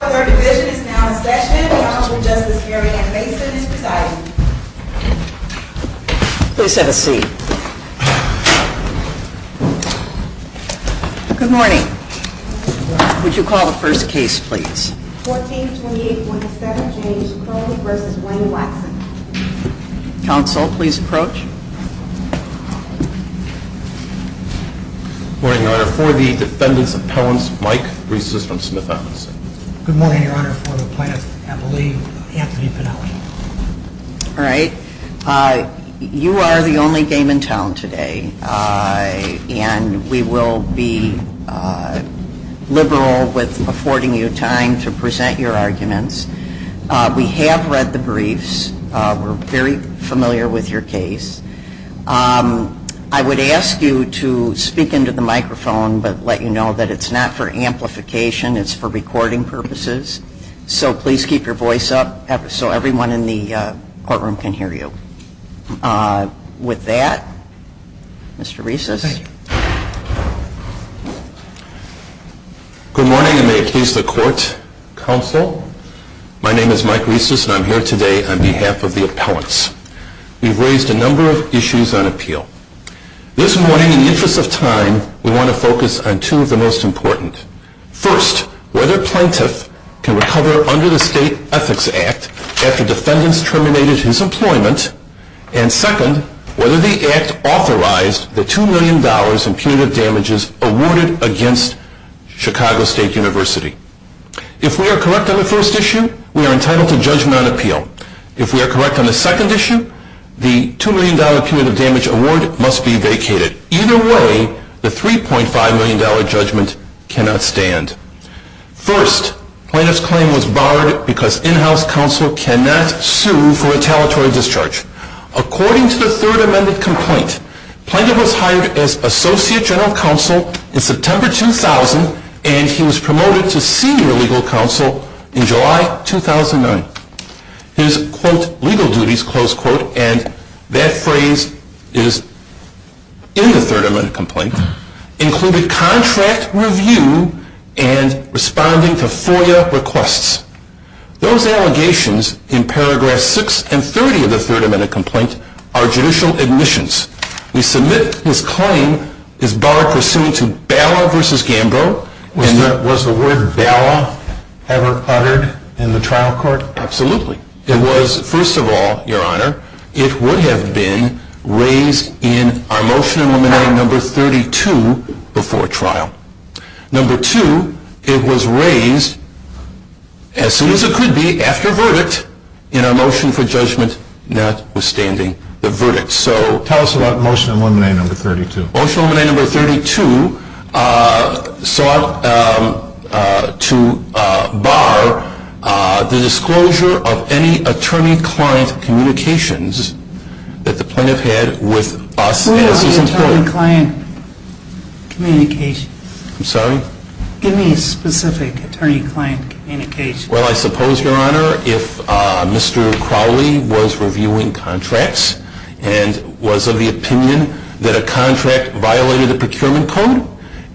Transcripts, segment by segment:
Our third division is now in session. Counsel Justice Marianne Mason is presiding. Please have a seat. Good morning. Would you call the first case please? 1428.7 James Crowley v. Wayne Watson Counsel, please approach. Good morning, Your Honor. For the defendants' appellants, Mike Breese is from Smith Advocacy. Good morning, Your Honor. For the plaintiffs' appellees, Anthony Pinelli. All right. You are the only game in town today. And we will be liberal with affording you time to present your arguments. We have read the briefs. We're very familiar with your case. I would ask you to speak into the microphone but let you know that it's not for amplification. It's for recording purposes. So please keep your voice up so everyone in the courtroom can hear you. With that, Mr. Reeses. Good morning, and may it please the Court, Counsel. My name is Mike Reeses and I'm here today on behalf of the appellants. We've raised a number of issues on appeal. This morning, in the interest of time, we want to focus on two of the most important. First, whether a plaintiff can recover under the State Ethics Act after defendants terminated his employment. And second, whether the Act authorized the $2 million in punitive damages awarded against Chicago State University. If we are correct on the first issue, we are entitled to judgment on appeal. If we are correct on the second issue, the $2 million punitive damage award must be vacated. Either way, the $3.5 million judgment cannot stand. First, plaintiff's claim was barred because in-house counsel cannot sue for retaliatory discharge. According to the third amended complaint, plaintiff was hired as Associate General Counsel in September 2000, and he was promoted to Senior Legal Counsel in July 2009. His, quote, legal duties, close quote, and that phrase is in the third amended complaint, included contract review and responding to FOIA requests. Those allegations in paragraph 6 and 30 of the third amended complaint are judicial admissions. We submit his claim is barred pursuant to Bala v. Gambrow. Was the word Bala ever uttered in the trial court? Absolutely. It was, first of all, your honor, it would have been raised in our motion eliminating number 32 before trial. Number two, it was raised as soon as it could be after verdict in our motion for judgment notwithstanding the verdict. Tell us about motion eliminating number 32. Motion eliminating number 32 sought to bar the disclosure of any attorney-client communications that the plaintiff had with us as his employer. What do you mean attorney-client communications? I'm sorry? Give me a specific attorney-client communication. Well, I suppose, your honor, if Mr. Crowley was reviewing contracts and was of the opinion that a contract violated the procurement code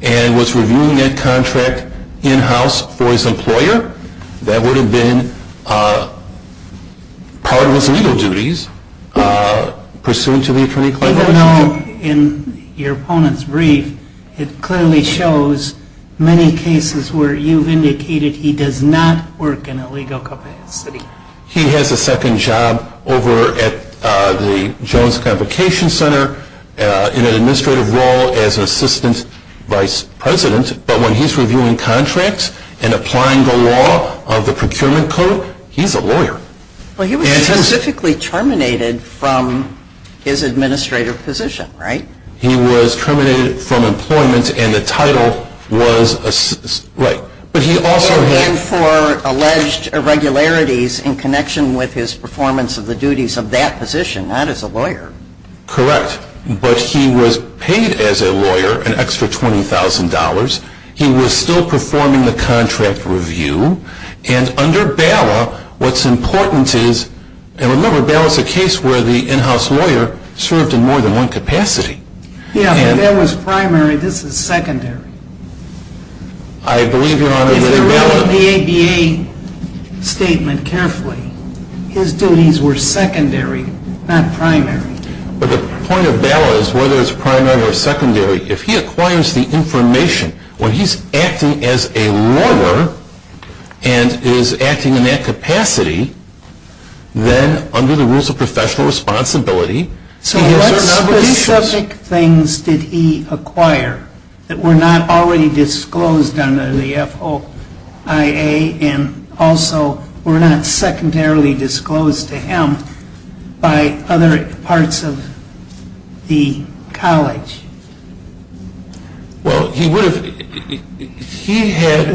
and was reviewing that contract in-house for his employer, that would have been part of his legal duties pursuant to the attorney-client motion. As you know, in your opponent's brief, it clearly shows many cases where you've indicated he does not work in a legal capacity. He has a second job over at the Jones Convocation Center in an administrative role as an assistant vice president, but when he's reviewing contracts and applying the law of the procurement code, he's a lawyer. Well, he was specifically terminated from his administrative position, right? He was terminated from employment and the title was assistant. Right. But he also had for alleged irregularities in connection with his performance of the duties of that position, not as a lawyer. Correct. He was still performing the contract review. And under BALA, what's important is, and remember, BALA is a case where the in-house lawyer served in more than one capacity. Yeah, but that was primary. This is secondary. I believe, your honor, that if BALA... If you read the ABA statement carefully, his duties were secondary, not primary. But the point of BALA is, whether it's primary or secondary, if he acquires the information where he's acting as a lawyer and is acting in that capacity, then under the rules of professional responsibility, he has certain obligations. So what specific things did he acquire that were not already disclosed under the FOIA and also were not secondarily disclosed to him by other parts of the college? Well, he would have...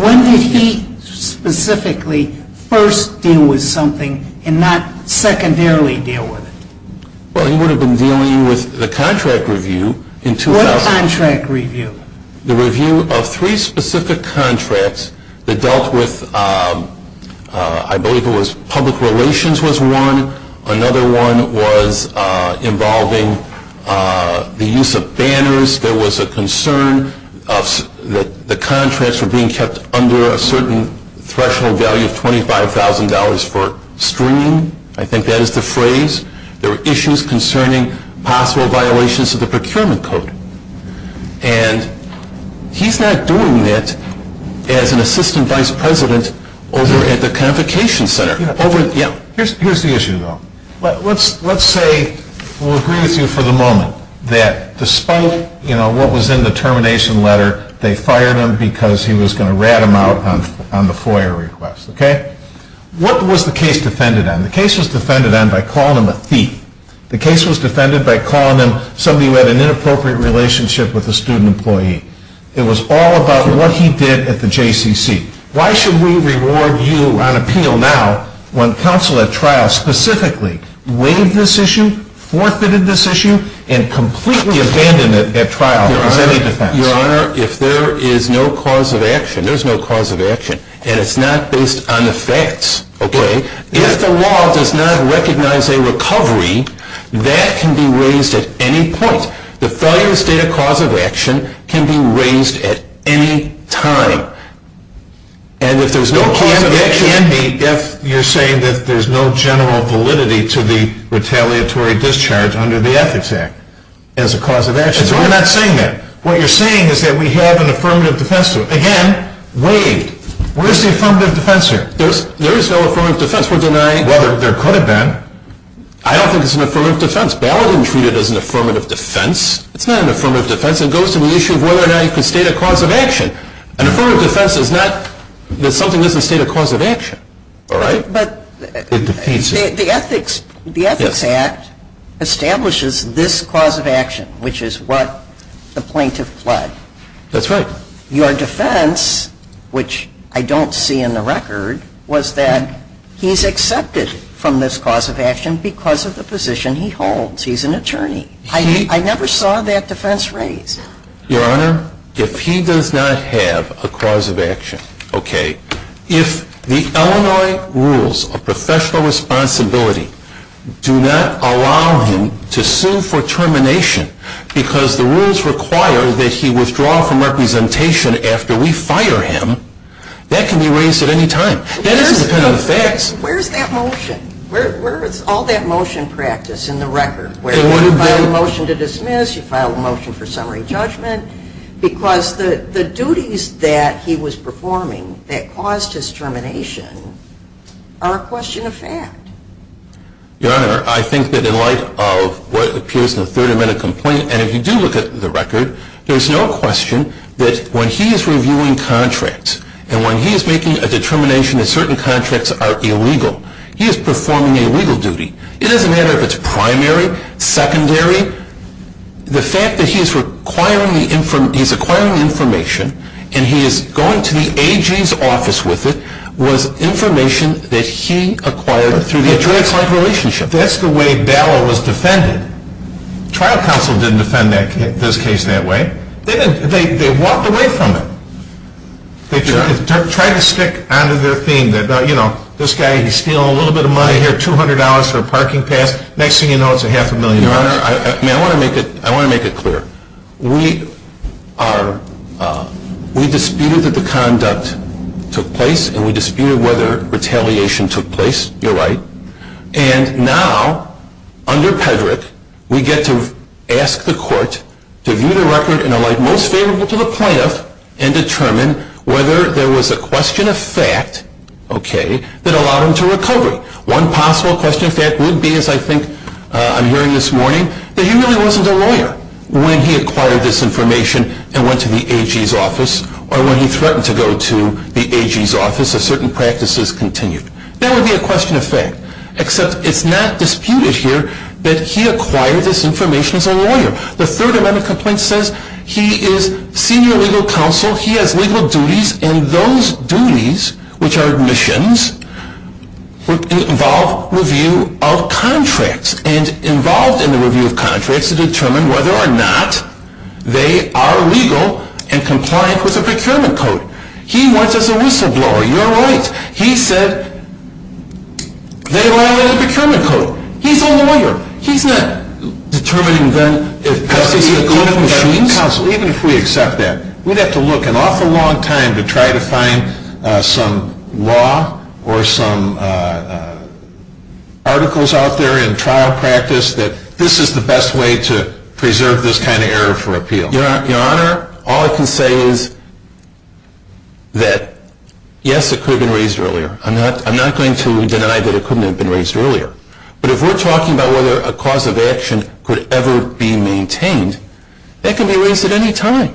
When did he specifically first deal with something and not secondarily deal with it? Well, he would have been dealing with the contract review in 2000... What contract review? The review of three specific contracts that dealt with... I believe it was public relations was one. Another one was involving the use of banners. There was a concern that the contracts were being kept under a certain threshold value of $25,000 for streaming. I think that is the phrase. There were issues concerning possible violations of the procurement code. And he's not doing that as an assistant vice president over at the Convocation Center. Here's the issue, though. Let's say we'll agree with you for the moment that despite what was in the termination letter, they fired him because he was going to rat him out on the FOIA request. What was the case defended on? The case was defended on by calling him a thief. The case was defended by calling him somebody who had an inappropriate relationship with a student employee. It was all about what he did at the JCCC. Why should we reward you on appeal now when counsel at trial specifically waived this issue, forfeited this issue, and completely abandoned it at trial as any defense? Your Honor, if there is no cause of action, there's no cause of action. And it's not based on the facts, okay? If the law does not recognize a recovery, that can be raised at any point. The failure to state a cause of action can be raised at any time. And if there's no cause of action... No cause of action can be if you're saying that there's no general validity to the retaliatory discharge under the Ethics Act as a cause of action. That's why I'm not saying that. What you're saying is that we have an affirmative defense to it. Again, waived. Where's the affirmative defense here? There is no affirmative defense. We're denying... Well, there could have been. I don't think it's an affirmative defense. Ballatin treated it as an affirmative defense. It's not an affirmative defense. It goes to the issue of whether or not you can state a cause of action. An affirmative defense is not that something doesn't state a cause of action. All right? But... It defeats it. The Ethics Act establishes this cause of action, which is what the plaintiff pled. That's right. Your defense, which I don't see in the record, was that he's accepted from this cause of action because of the position he holds. He's an attorney. I never saw that defense raised. Your Honor, if he does not have a cause of action, okay, if the Illinois rules of professional responsibility do not allow him to sue for termination because the rules require that he withdraw from representation after we fire him, that can be raised at any time. That is independent of facts. Where is that motion? Where is all that motion practice in the record? Where you file a motion to dismiss, you file a motion for summary judgment, because the duties that he was performing that caused his termination are a question of fact. Your Honor, I think that in light of what appears in the third amendment complaint, and if you do look at the record, there's no question that when he is reviewing contracts and when he is making a determination that certain contracts are illegal, he is performing a legal duty. It doesn't matter if it's primary, secondary. The fact that he's acquiring the information and he is going to the AG's office with it was information that he acquired through the AG's relationship. That's the way Ballot was defended. Trial counsel didn't defend this case that way. They walked away from it. They tried to stick onto their theme that, you know, this guy, he's stealing a little bit of money here, $200 for a parking pass, next thing you know it's a half a million dollars. Your Honor, I want to make it clear. We disputed that the conduct took place and we disputed whether retaliation took place. You're right. And now, under Pedrick, we get to ask the court to view the record in a light most favorable to the plaintiff and determine whether there was a question of fact, okay, that allowed him to recover. One possible question of fact would be, as I think I'm hearing this morning, that he really wasn't a lawyer when he acquired this information and went to the AG's office or when he threatened to go to the AG's office if certain practices continued. That would be a question of fact, except it's not disputed here that he acquired this information as a lawyer. The Third Amendment complaint says he is senior legal counsel, he has legal duties, and those duties, which are admissions, involve review of contracts and involved in the review of contracts to determine whether or not they are legal and compliant with the procurement code. He went as a whistleblower. You're right. He said they violated the procurement code. He's a lawyer. He's not determining then if Pesky's legal or not legal counsel, even if we accept that. We'd have to look an awful long time to try to find some law or some articles out there in trial practice that this is the best way to preserve this kind of error for appeal. Your Honor, all I can say is that, yes, it could have been raised earlier. I'm not going to deny that it could have been raised earlier. But if we're talking about whether a cause of action could ever be maintained, that can be raised at any time.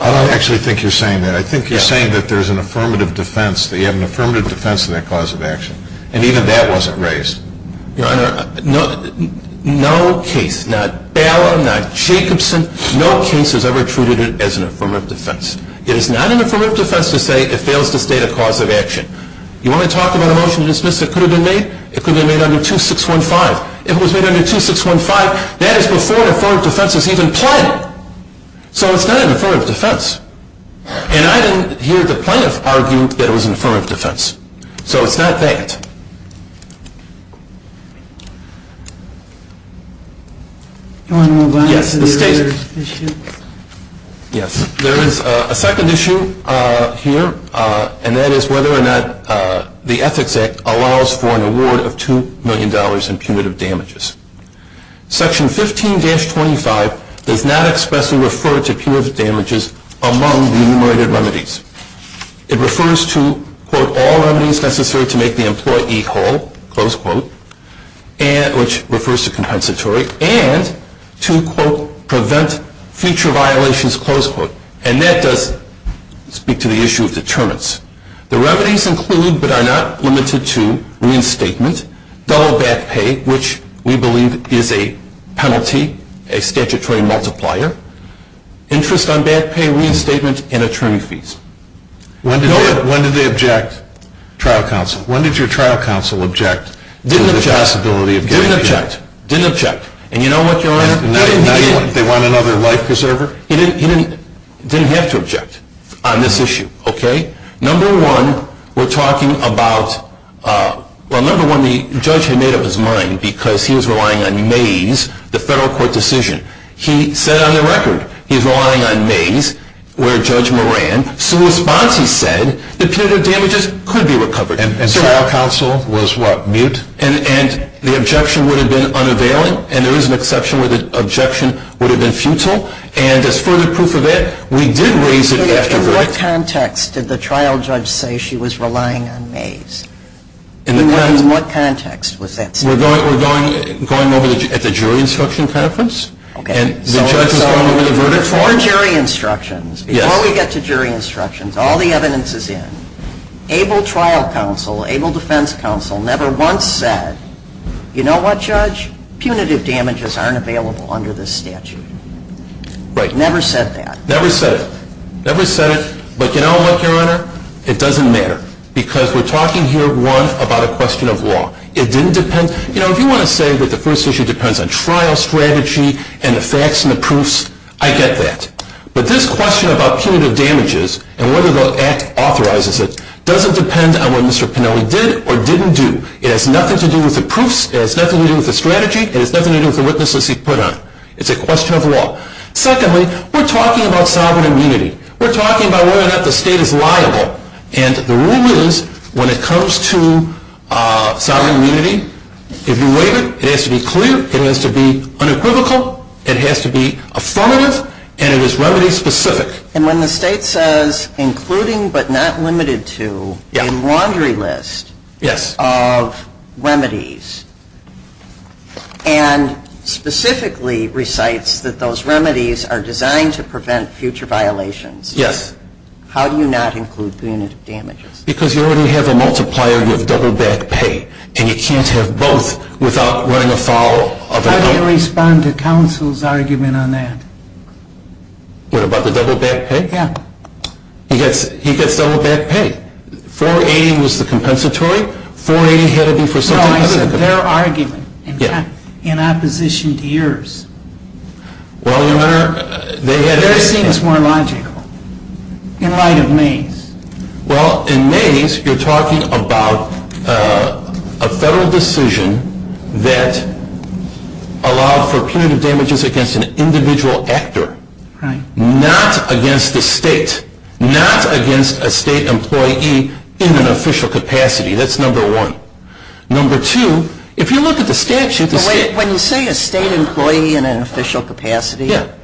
I don't actually think you're saying that. I think you're saying that there's an affirmative defense, that you have an affirmative defense in that cause of action, and even that wasn't raised. Your Honor, no case, not Bala, not Jacobson, no case has ever treated it as an affirmative defense. It is not an affirmative defense to say it fails to state a cause of action. You want to talk about a motion to dismiss that could have been made? It could have been made under 2615. It was made under 2615. That is before the affirmative defense was even planned. So it's not an affirmative defense. And I didn't hear the plaintiff argue that it was an affirmative defense. So it's not that. Your Honor, I'm going to go back to the earlier issue. Yes, there is a second issue here, and that is whether or not the Ethics Act allows for an award of $2 million in punitive damages. Section 15-25 does not expressly refer to punitive damages among the enumerated remedies. It refers to, quote, all remedies necessary to make the employee whole, close quote, which refers to compensatory, and to, quote, prevent future violations, close quote. And that does speak to the issue of determinants. The remedies include, but are not limited to, reinstatement, double back pay, which we believe is a penalty, a statutory multiplier, interest on back pay, reinstatement, and attorney fees. When did they object? Trial counsel. When did your trial counsel object to the possibility of getting the award? Didn't object. Didn't object. And you know what, Your Honor? They want another life preserver? He didn't have to object on this issue, okay? Number one, we're talking about, well, number one, the judge had made up his mind because he was relying on Mays, the federal court decision. He said on the record he's relying on Mays, where Judge Moran, so in response he said the punitive damages could be recovered. And trial counsel was what, mute? And the objection would have been unavailing, and there is an exception where the objection would have been futile. And as further proof of that, we did raise it after the verdict. In what context did the trial judge say she was relying on Mays? In what context was that stated? We're going over at the jury instruction conference. Okay. And the judge was going over the verdict form. Before jury instructions. Yes. Before we get to jury instructions, all the evidence is in. ABLE trial counsel, ABLE defense counsel never once said, you know what, Judge? Punitive damages aren't available under this statute. Right. Never said that. Never said it. Never said it. But you know what, Your Honor? It doesn't matter because we're talking here, one, about a question of law. It didn't depend. You know, if you want to say that the first issue depends on trial strategy and the facts and the proofs, I get that. But this question about punitive damages and whether the act authorizes it doesn't depend on what Mr. Pinelli did or didn't do. It has nothing to do with the proofs. It has nothing to do with the strategy. It's a question of law. Secondly, we're talking about sovereign immunity. We're talking about whether or not the state is liable. And the rule is when it comes to sovereign immunity, if you waive it, it has to be clear, it has to be unequivocal, it has to be affirmative, and it is remedy specific. And when the state says including but not limited to a laundry list of remedies and specifically recites that those remedies are designed to prevent future violations, how do you not include punitive damages? Because you already have a multiplier. You have double back pay. And you can't have both without running afoul of another. How do you respond to counsel's argument on that? What, about the double back pay? Yeah. He gets double back pay. 480 was the compensatory. 480 had to be for something other than compensatory. No, I said their argument. Yeah. In opposition to yours. Theirs seems more logical in light of May's. Well, in May's, you're talking about a federal decision that allowed for punitive damages against an individual actor. Right. Not against the state. Not against a state employee in an official capacity. That's number one. Number two, if you look at the statute. When you say a state employee in an official capacity. Yeah.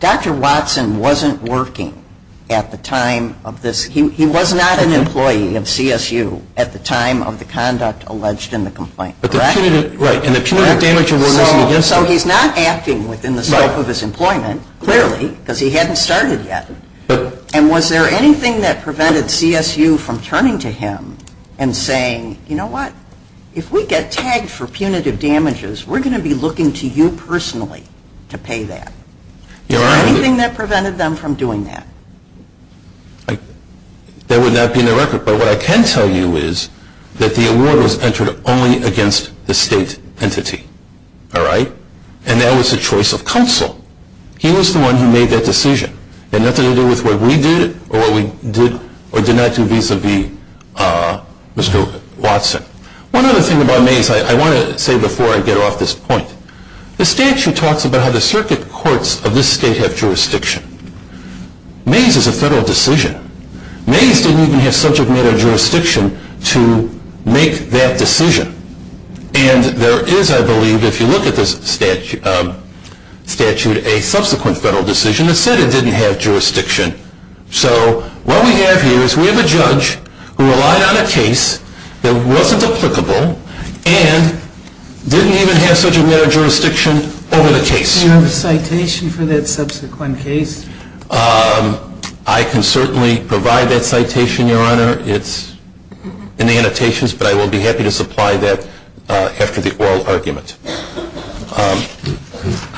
Dr. Watson wasn't working at the time of this. He was not an employee of CSU at the time of the conduct alleged in the complaint. Correct? Correct. So he's not acting within the scope of his employment, clearly, because he hadn't started yet. And was there anything that prevented CSU from turning to him and saying, you know what? If we get tagged for punitive damages, we're going to be looking to you personally to pay that. Is there anything that prevented them from doing that? That would not be in the record. But what I can tell you is that the award was entered only against the state entity. All right? And that was a choice of counsel. He was the one who made that decision. It had nothing to do with what we did or what we did or did not do vis-a-vis Mr. Watson. One other thing about Mays, I want to say before I get off this point. The statute talks about how the circuit courts of this state have jurisdiction. Mays is a federal decision. Mays didn't even have subject matter jurisdiction to make that decision. And there is, I believe, if you look at this statute, a subsequent federal decision that said it didn't have jurisdiction. So what we have here is we have a judge who relied on a case that wasn't applicable and didn't even have subject matter jurisdiction over the case. Do you have a citation for that subsequent case? I can certainly provide that citation, Your Honor. It's in the annotations, but I will be happy to supply that after the oral argument.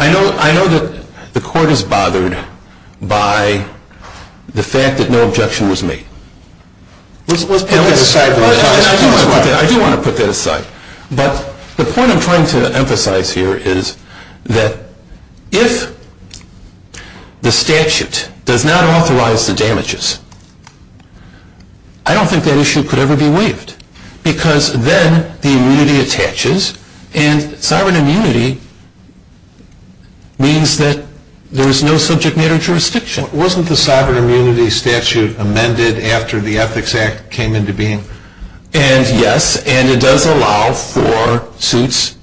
I know that the court is bothered by the fact that no objection was made. Let's put that aside. I do want to put that aside. But the point I'm trying to emphasize here is that if the statute does not authorize the damages, I don't think that issue could ever be waived. Because then the immunity attaches, and sovereign immunity means that there is no subject matter jurisdiction. Wasn't the sovereign immunity statute amended after the Ethics Act came into being? And yes, and it does allow for suits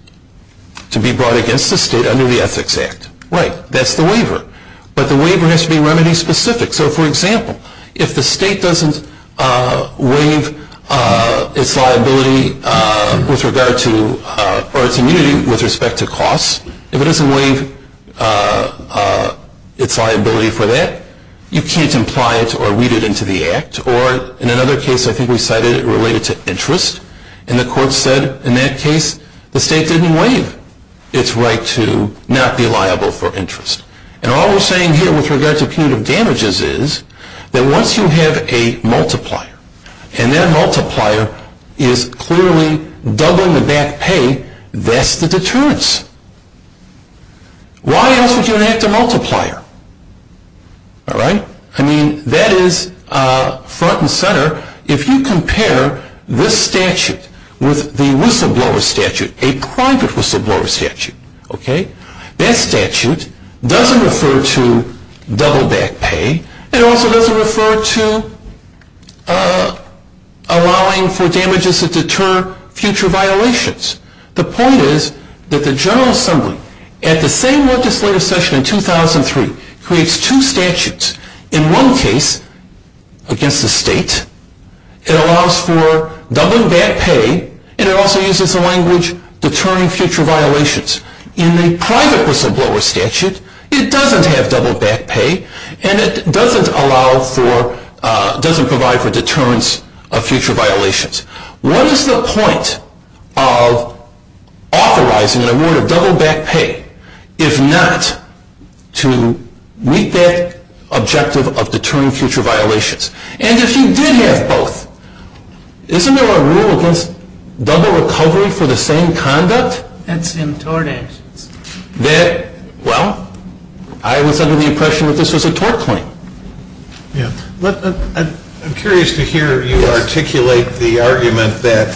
to be brought against the state under the Ethics Act. Right. That's the waiver. But the waiver has to be remedy specific. So, for example, if the state doesn't waive its liability with regard to or its immunity with respect to costs, if it doesn't waive its liability for that, you can't imply it or read it into the Act. Or in another case, I think we cited it related to interest, and the court said in that case the state didn't waive its right to not be liable for interest. And all we're saying here with regard to punitive damages is that once you have a multiplier, and that multiplier is clearly doubling the back pay, that's the deterrence. Why else would you enact a multiplier? All right. I mean, that is front and center. If you compare this statute with the whistleblower statute, a private whistleblower statute, okay, that statute doesn't refer to double back pay. It also doesn't refer to allowing for damages that deter future violations. The point is that the General Assembly, at the same legislative session in 2003, creates two statutes. In one case, against the state, it allows for doubling back pay, and it also uses the language deterring future violations. In the private whistleblower statute, it doesn't have double back pay, and it doesn't allow for, doesn't provide for deterrence of future violations. What is the point of authorizing an award of double back pay if not to meet that objective of deterring future violations? And if you did have both, isn't there a rule against double recovery for the same conduct? That's in tort actions. That, well, I was under the impression that this was a tort claim. I'm curious to hear you articulate the argument that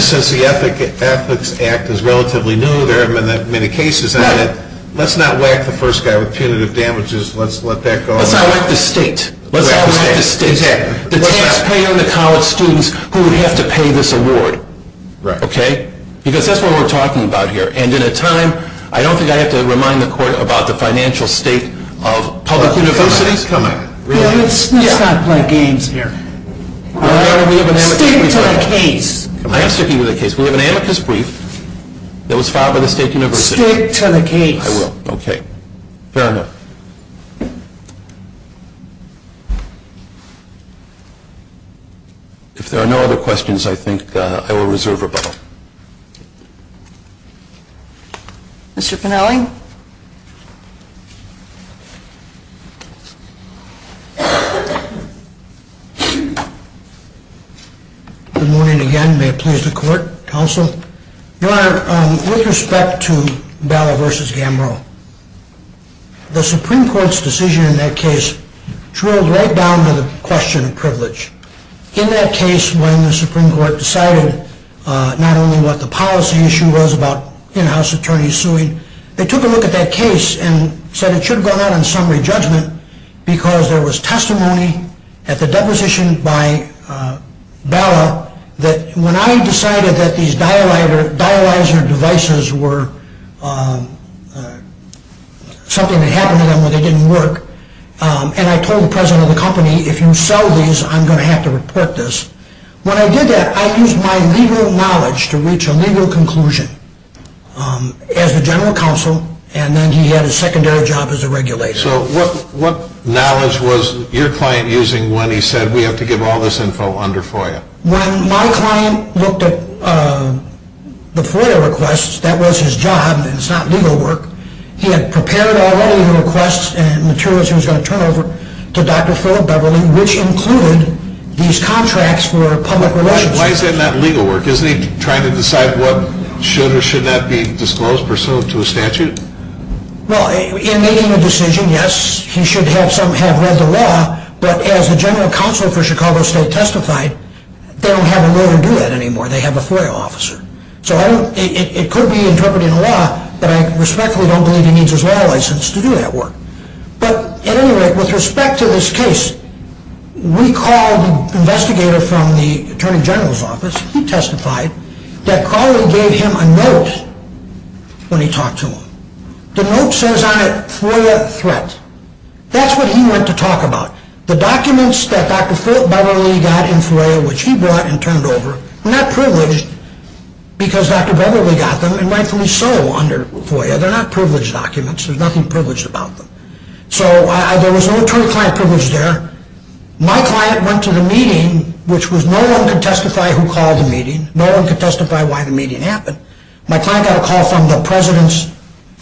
since the Ethics Act is relatively new, there haven't been that many cases. Let's not whack the first guy with punitive damages. Let's let that go. Let's not whack the state. Let's not whack the state. Exactly. The taxpayer and the college students who would have to pay this award. Right. Okay? Because that's what we're talking about here. And in a time, I don't think I have to remind the court about the financial state of public universities coming. Let's not play games here. Stick to the case. I am sticking to the case. We have an amicus brief that was filed by the State University. Stick to the case. I will. Okay. Fair enough. If there are no other questions, I think I will reserve rebuttal. Mr. Pinelli? Good morning again. May it please the court, counsel? Your Honor, with respect to Bala v. Gamro, the Supreme Court's decision in that case drilled right down to the question of privilege. In that case, when the Supreme Court decided not only what the policy issue was about in-house attorneys suing, they took a look at that case and said it should have gone out on summary judgment because there was testimony at the deposition by Bala that when I decided that these dialyzer devices were something that happened to them or they didn't work, and I told the president of the company, if you sell these, I'm going to have to report this. When I did that, I used my legal knowledge to reach a legal conclusion as a general counsel, and then he had a secondary job as a regulator. So what knowledge was your client using when he said we have to give all this info under FOIA? When my client looked at the FOIA requests, that was his job, and it's not legal work. He had prepared already the requests and materials he was going to turn over to Dr. Philip Beverley, which included these contracts for public relations. Why is that not legal work? Isn't he trying to decide what should or should not be disclosed pursuant to a statute? Well, in making a decision, yes, he should have somehow read the law, but as the general counsel for Chicago State testified, they don't have a lawyer do that anymore. They have a FOIA officer. So it could be interpreted in law, but I respectfully don't believe he needs his law license to do that work. But at any rate, with respect to this case, we called an investigator from the attorney general's office. He testified that Crowley gave him a note when he talked to him. The note says on it, FOIA threat. That's what he went to talk about. The documents that Dr. Philip Beverley got in FOIA, which he brought and turned over, were not privileged because Dr. Beverley got them, and rightfully so under FOIA. They're not privileged documents. There's nothing privileged about them. So there was no attorney-client privilege there. My client went to the meeting, which no one could testify who called the meeting. No one could testify why the meeting happened. My client got a call from the president's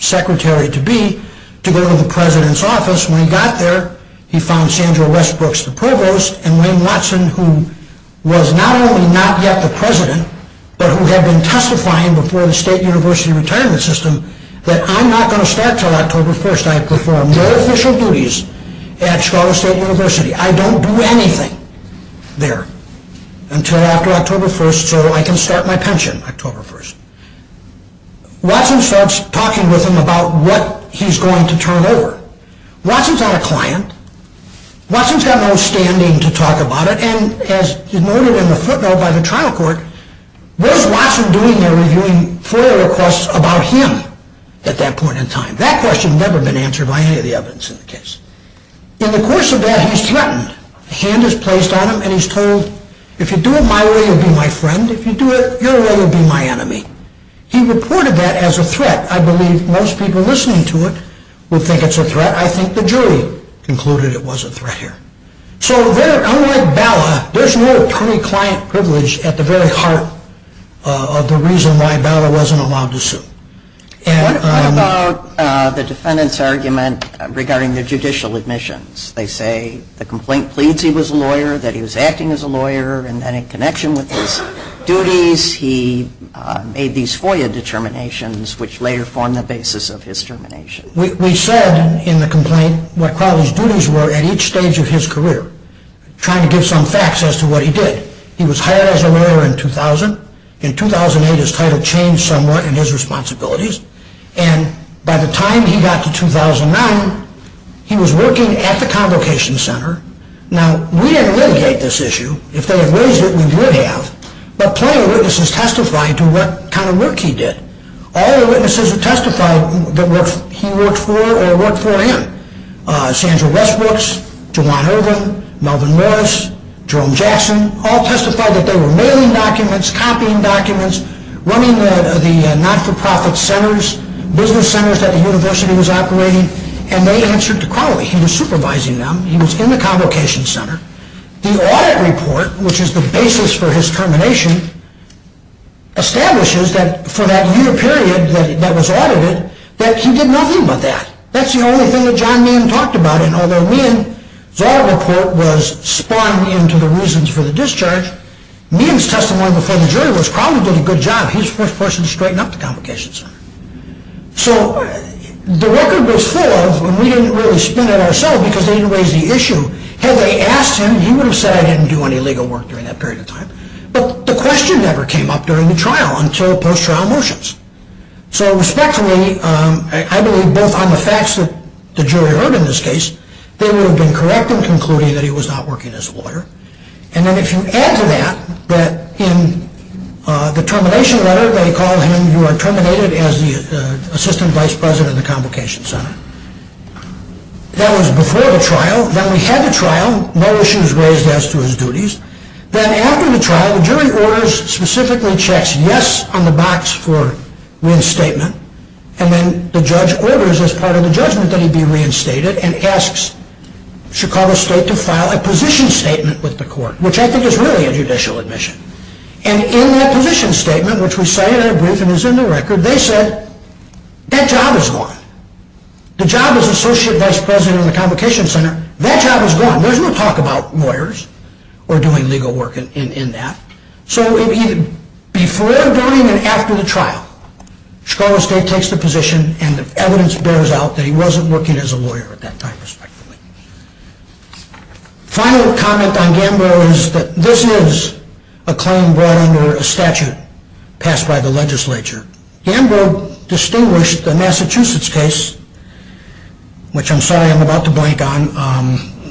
secretary-to-be to go to the president's office. When he got there, he found Sandra Westbrooks, the provost, and Wayne Watson, who was not only not yet the president, but who had been testifying before the state university retirement system, that I'm not going to start until October 1st. I have performed no official duties at Chicago State University. I don't do anything there until after October 1st so I can start my pension October 1st. Watson starts talking with him about what he's going to turn over. Watson's not a client. Watson's got no standing to talk about it, and as noted in the footnote by the trial court, what is Watson doing there reviewing FOIA requests about him at that point in time? That question had never been answered by any of the evidence in the case. In the course of that, he's threatened. A hand is placed on him, and he's told, if you do it my way, you'll be my friend. If you do it your way, you'll be my enemy. He reported that as a threat. I believe most people listening to it would think it's a threat. I think the jury concluded it was a threat here. So unlike Bala, there's no attorney-client privilege at the very heart of the reason why Bala wasn't allowed to sue. What about the defendant's argument regarding the judicial admissions? They say the complaint pleads he was a lawyer, that he was acting as a lawyer, and then in connection with his duties, he made these FOIA determinations, which later formed the basis of his termination. We said in the complaint what Crowley's duties were at each stage of his career, trying to give some facts as to what he did. He was hired as a lawyer in 2000. In 2008, his title changed somewhat in his responsibilities. And by the time he got to 2009, he was working at the Convocation Center. Now, we didn't litigate this issue. If they had raised it, we would have. But plenty of witnesses testified to what kind of work he did. All the witnesses who testified that he worked for or worked for him, Sandra Westbrooks, Jawan Irvin, Melvin Morris, Jerome Jackson, all testified that they were mailing documents, copying documents, running the not-for-profit centers, business centers that the university was operating, and they answered to Crowley. He was supervising them. He was in the Convocation Center. The audit report, which is the basis for his termination, establishes that for that year period that was audited, that he did nothing but that. That's the only thing that John Meehan talked about. And although Meehan's audit report was spawned into the reasons for the discharge, Meehan's testimony before the jury was Crowley did a good job. He was the first person to straighten up the Convocation Center. So the record was full of, and we didn't really spin it ourselves because they didn't raise the issue. Had they asked him, he would have said, I didn't do any legal work during that period of time. But the question never came up during the trial until post-trial motions. So respectively, I believe both on the facts that the jury heard in this case, they would have been correct in concluding that he was not working as a lawyer. And then if you add to that, that in the termination letter they called him, you are terminated as the Assistant Vice President of the Convocation Center. That was before the trial. No issues raised as to his duties. Then after the trial, the jury orders, specifically checks, yes on the box for reinstatement. And then the judge orders as part of the judgment that he be reinstated and asks Chicago State to file a position statement with the court, which I think is really a judicial admission. And in that position statement, which we say in our briefing and is in the record, they said, that job is gone. The job as Associate Vice President of the Convocation Center, that job is gone. There's no talk about lawyers or doing legal work in that. So before going and after the trial, Chicago State takes the position and the evidence bears out that he wasn't working as a lawyer at that time, respectively. Final comment on Gamboa is that this is a claim brought under a statute passed by the legislature. Gamboa distinguished the Massachusetts case, which I'm sorry I'm about to blank on,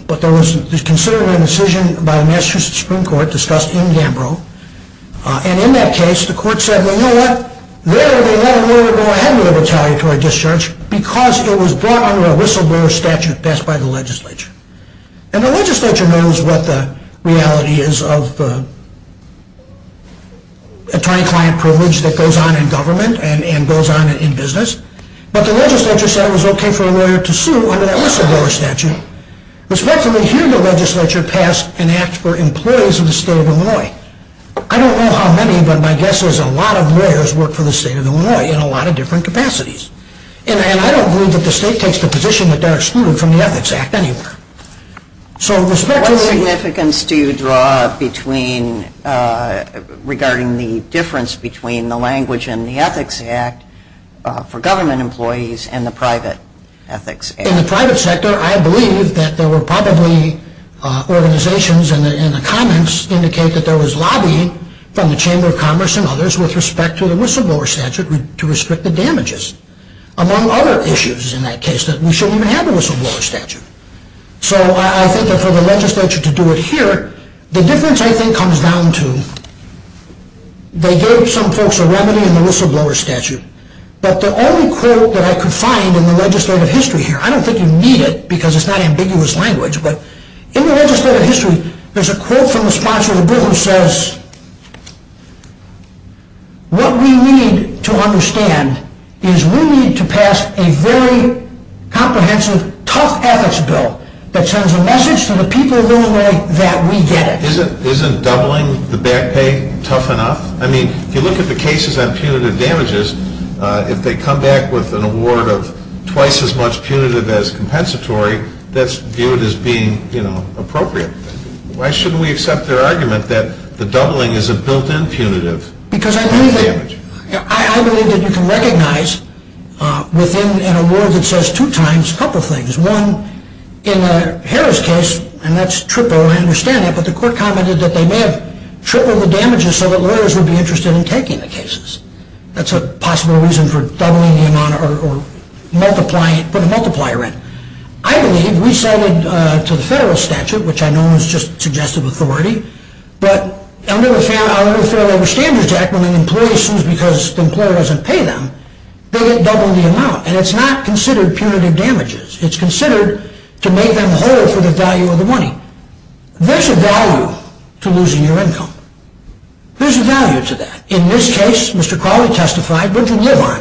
but there was considered a decision by the Massachusetts Supreme Court discussed in Gamboa. And in that case, the court said, well, you know what? There they let a lawyer go ahead with a retaliatory discharge because it was brought under a whistleblower statute passed by the legislature. And the legislature knows what the reality is of attorney-client privilege that goes on in government and goes on in business. But the legislature said it was okay for a lawyer to sue under that whistleblower statute. Respectively, here the legislature passed an act for employees of the state of Illinois. I don't know how many, but my guess is a lot of lawyers work for the state of Illinois in a lot of different capacities. And I don't believe that the state takes the position that they're excluded from the Ethics Act anywhere. So, respectively... What significance do you draw between, regarding the difference between the language and the Ethics Act for government employees and the private ethics? In the private sector, I believe that there were probably organizations and the comments indicate that there was lobbying from the Chamber of Commerce and others with respect to the whistleblower statute to restrict the damages. Among other issues in that case, that we shouldn't even have a whistleblower statute. So, I think that for the legislature to do it here, the difference, I think, comes down to they gave some folks a remedy in the whistleblower statute but the only quote that I could find in the legislative history here, I don't think you need it because it's not ambiguous language, but in the legislative history, there's a quote from the sponsor of the bill who says, what we need to understand is we need to pass a very comprehensive, tough ethics bill that sends a message to the people of Illinois that we get it. Isn't doubling the back pay tough enough? I mean, if you look at the cases on punitive damages, if they come back with an award of twice as much punitive as compensatory, that's viewed as being appropriate. Why shouldn't we accept their argument that the doubling is a built-in punitive damage? Because I believe that you can recognize within an award that says two times a couple of things. One, in the Harris case, and that's triple, I understand that, but the court commented that they may have tripled the damages so that lawyers would be interested in taking the cases. That's a possible reason for doubling the amount or putting a multiplier in. I believe, we cited to the federal statute, which I know is just suggestive authority, but under the Fair Labor Standards Act, when an employee assumes because the employer doesn't pay them, they get doubled the amount. And it's not considered punitive damages. It's considered to make them whole for the value of the money. There's a value to losing your income. There's a value to that. In this case, Mr. Crowley testified, what did you live on?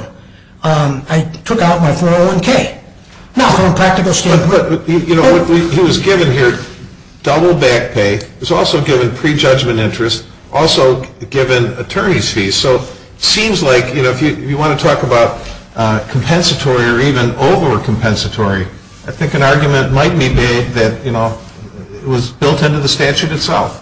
I took out my 401K. Not from a practical standpoint. You know, he was given here double back pay. He was also given prejudgment interest. Also given attorney's fees. So it seems like, you know, if you want to talk about compensatory or even over-compensatory, I think an argument might be made that, you know, it was built into the statute itself.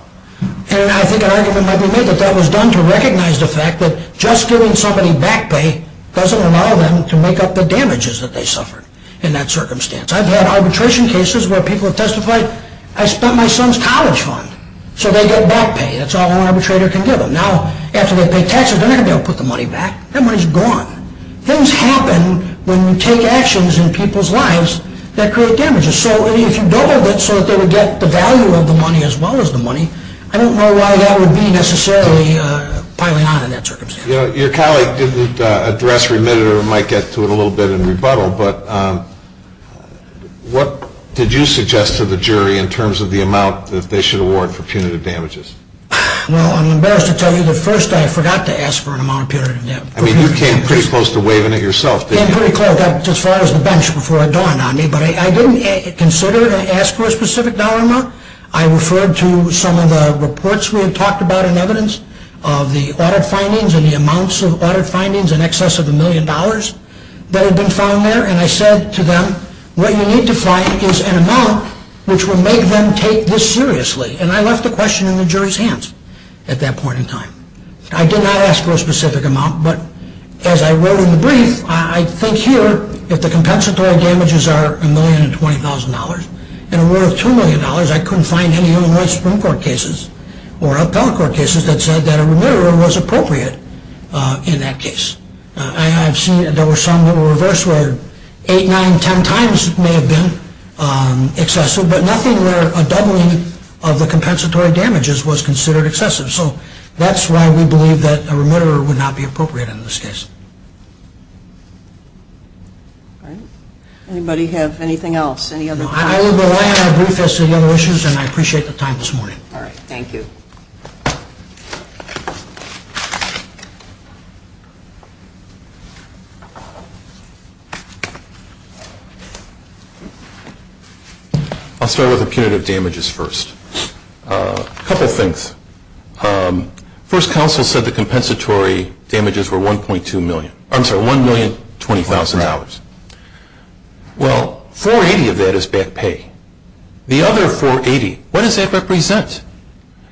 And I think an argument might be made that that was done to recognize the fact that just giving somebody back pay doesn't allow them to make up the damages that they suffered in that circumstance. I've had arbitration cases where people have testified, I spent my son's college fund. So they get back pay. That's all an arbitrator can give them. Now, after they pay taxes, they're not going to be able to put the money back. That money's gone. Things happen when you take actions in people's lives that create damages. So if you doubled it so that they would get the value of the money as well as the money, I don't know why that would be necessarily piling on in that circumstance. You know, your colleague didn't address remitted or might get to it a little bit in rebuttal, but what did you suggest to the jury in terms of the amount that they should award for punitive damages? Well, I'm embarrassed to tell you that first I forgot to ask for an amount of punitive damages. I mean, you came pretty close to waiving it yourself, didn't you? Came pretty close. As far as the bench before it dawned on me. But I didn't consider or ask for a specific dollar amount. I referred to some of the reports we had talked about and evidence of the audit findings and the amounts of audit findings in excess of a million dollars that had been found there. And I said to them, what you need to find is an amount which will make them take this seriously. And I left the question in the jury's hands at that point in time. I did not ask for a specific amount, but as I wrote in the brief, I think here if the compensatory damages are a million and $20,000, and a reward of $2 million, I couldn't find any other Supreme Court cases or appellate court cases that said that a remitter was appropriate in that case. I have seen that there were some that were reversed where 8, 9, 10 times it may have been excessive, but nothing where a doubling of the compensatory damages was considered excessive. So that's why we believe that a remitter would not be appropriate in this case. Anybody have anything else? No, I will rely on our brief as to the other issues and I appreciate the time this morning. All right, thank you. I'll start with the punitive damages first. A couple things. First, counsel said the compensatory damages were $1,020,000. Well, $480,000 of that is back pay. The other $480,000, what does that represent?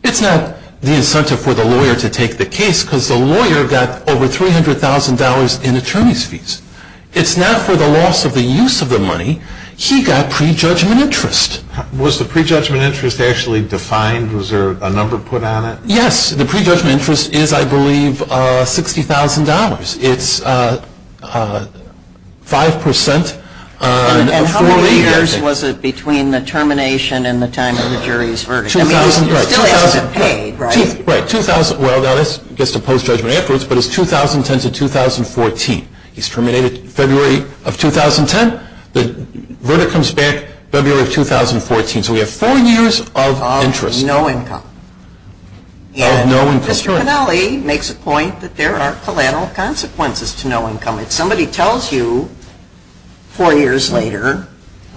It's not the incentive for the lawyer to take the case because the lawyer got over $300,000 in attorney's fees. It's not for the loss of the use of the money. He got prejudgment interest. Was the prejudgment interest actually defined? Was there a number put on it? Yes, the prejudgment interest is, I believe, $60,000. It's 5% of $40,000. And how many years was it between the termination and the time of the jury's verdict? It still hasn't been paid, right? Well, that gets to post-judgment efforts, but it's 2010 to 2014. He's terminated February of 2010. The verdict comes back February of 2014. So we have four years of interest. Of no income. And Mr. Pinelli makes a point that there are collateral consequences to no income. If somebody tells you four years later,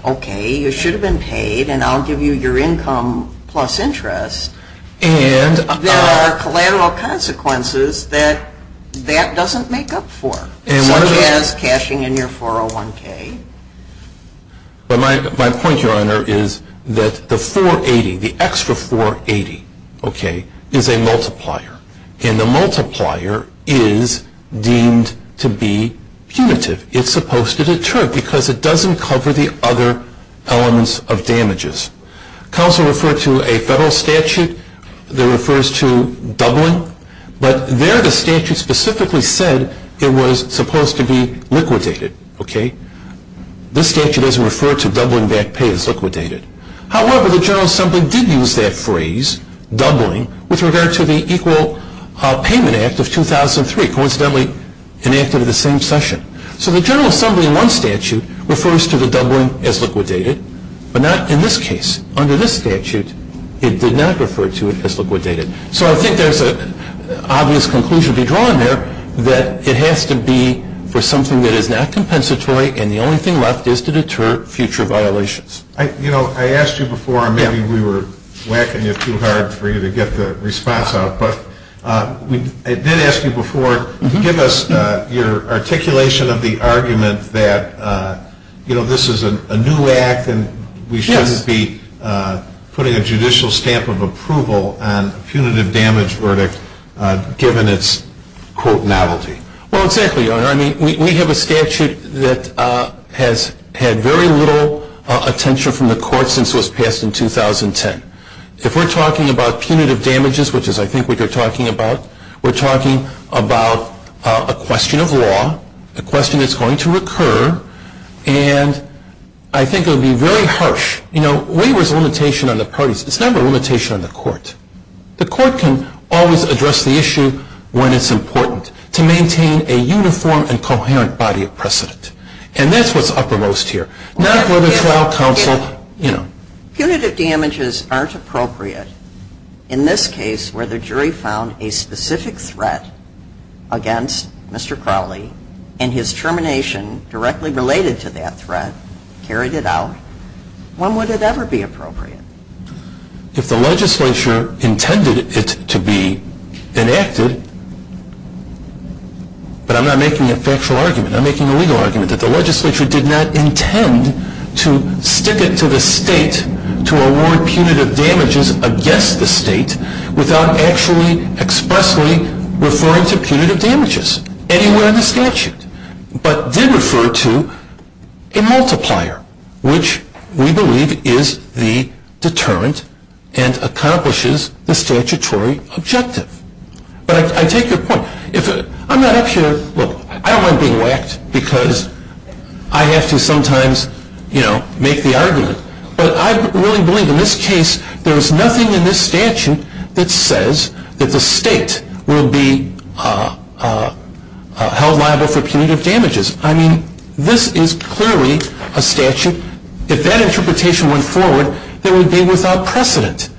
okay, you should have been paid and I'll give you your income plus interest, there are collateral consequences that that doesn't make up for, such as cashing in your 401K. But my point, Your Honor, is that the 480, the extra 480, okay, is a multiplier. And the multiplier is deemed to be punitive. It's supposed to deter because it doesn't cover the other elements of damages. Counsel referred to a federal statute that refers to doubling, but there the statute specifically said it was supposed to be liquidated, okay? This statute doesn't refer to doubling back pay as liquidated. However, the General Assembly did use that phrase, doubling, with regard to the Equal Payment Act of 2003, coincidentally enacted at the same session. So the General Assembly in one statute refers to the doubling as liquidated, but not in this case. Under this statute, it did not refer to it as liquidated. So I think there's an obvious conclusion to be drawn there that it has to be for something that is not compensatory and the only thing left is to deter future violations. You know, I asked you before, and maybe we were whacking you too hard for you to get the response out, but I did ask you before to give us your articulation of the argument that, you know, this is a new act and we shouldn't be putting a judicial stamp of approval on a punitive damage verdict given its, quote, novelty. Well, exactly, Your Honor. I mean, we have a statute that has had very little attention from the court since it was passed in 2010. If we're talking about punitive damages, which is I think what you're talking about, we're talking about a question of law, a question that's going to recur, and I think it would be very harsh. You know, waiver is a limitation on the parties. It's never a limitation on the court. The court can always address the issue when it's important to maintain a uniform and coherent body of precedent, and that's what's uppermost here, not whether trial counsel, you know. Punitive damages aren't appropriate in this case where the jury found a specific threat against Mr. Crowley and his termination directly related to that threat carried it out. When would it ever be appropriate? If the legislature intended it to be enacted, but I'm not making a factual argument, I'm making a legal argument, that the legislature did not intend to stick it to the state to award punitive damages against the state without actually expressly referring to punitive damages anywhere in the statute, but did refer to a multiplier, which we believe is the deterrent and accomplishes the statutory objective. But I take your point. I'm not up here, look, I don't mind being whacked because I have to sometimes, you know, make the argument, but I really believe in this case there is nothing in this statute that says that the state will be held liable for punitive damages. I mean, this is clearly a statute, if that interpretation went forward, it would be without precedent.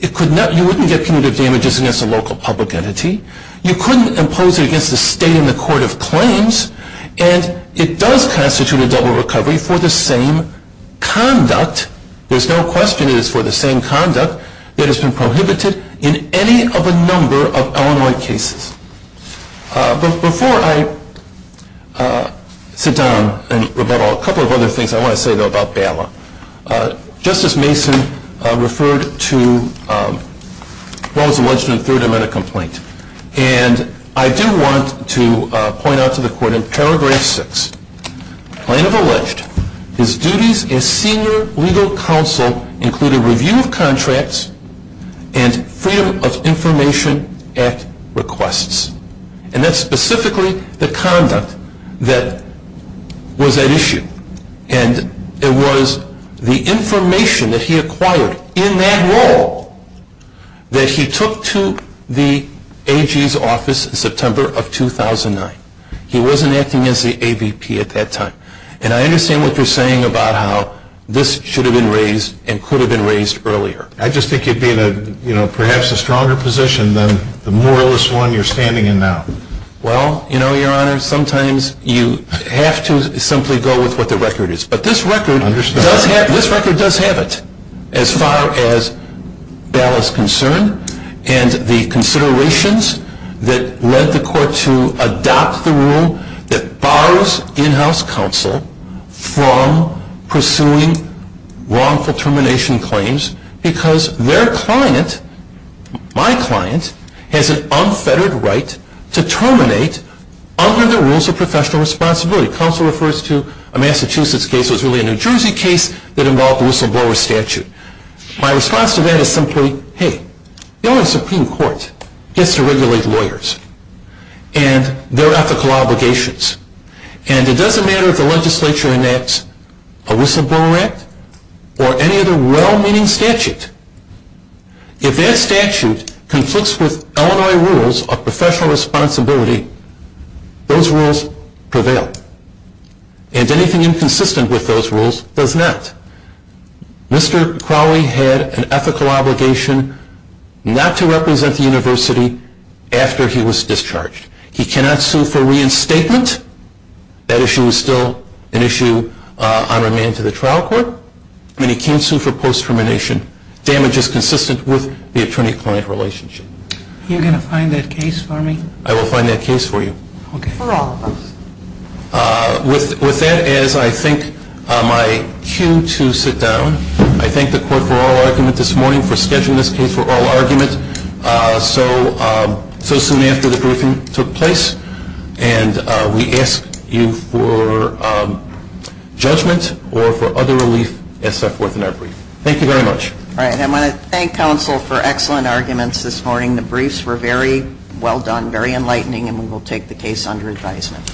You wouldn't get punitive damages against a local public entity. You couldn't impose it against the state in the court of claims, and it does constitute a double recovery for the same conduct. But there's no question it is for the same conduct that has been prohibited in any of a number of Illinois cases. But before I sit down and rebuttal a couple of other things I want to say, though, about Bala, Justice Mason referred to what was alleged in the Third Amendment complaint, and I do want to point out to the court in Paragraph 6, plaintiff alleged his duties as senior legal counsel included review of contracts and Freedom of Information Act requests. And that's specifically the conduct that was at issue. And it was the information that he acquired in that role that he took to the AG's office in September of 2009. He wasn't acting as the AVP at that time. And I understand what you're saying about how this should have been raised and could have been raised earlier. I just think you'd be in perhaps a stronger position than the more or less one you're standing in now. Well, you know, Your Honor, sometimes you have to simply go with what the record is. But this record does have it as far as Bala's concern and the considerations that led the court to adopt the rule that borrows in-house counsel from pursuing wrongful termination claims because their client, my client, has an unfettered right to terminate under the rules of professional responsibility. Counsel refers to a Massachusetts case. It was really a New Jersey case that involved whistleblower statute. My response to that is simply, hey, the only Supreme Court gets to regulate lawyers and their ethical obligations. And it doesn't matter if the legislature enacts a whistleblower act or any other well-meaning statute. If that statute conflicts with Illinois rules of professional responsibility, those rules prevail. And anything inconsistent with those rules does not. Mr. Crowley had an ethical obligation not to represent the university after he was discharged. He cannot sue for reinstatement. That issue is still an issue on remand to the trial court. And he can't sue for post-termination damages consistent with the attorney-client relationship. Are you going to find that case for me? I will find that case for you. For all of us. With that, as I think my cue to sit down, I thank the court for oral argument this morning, for scheduling this case for oral argument so soon after the briefing took place. And we ask you for judgment or for other relief as set forth in our brief. Thank you very much. All right. I want to thank counsel for excellent arguments this morning. The briefs were very well done, very enlightening, and we will take the case under advisement.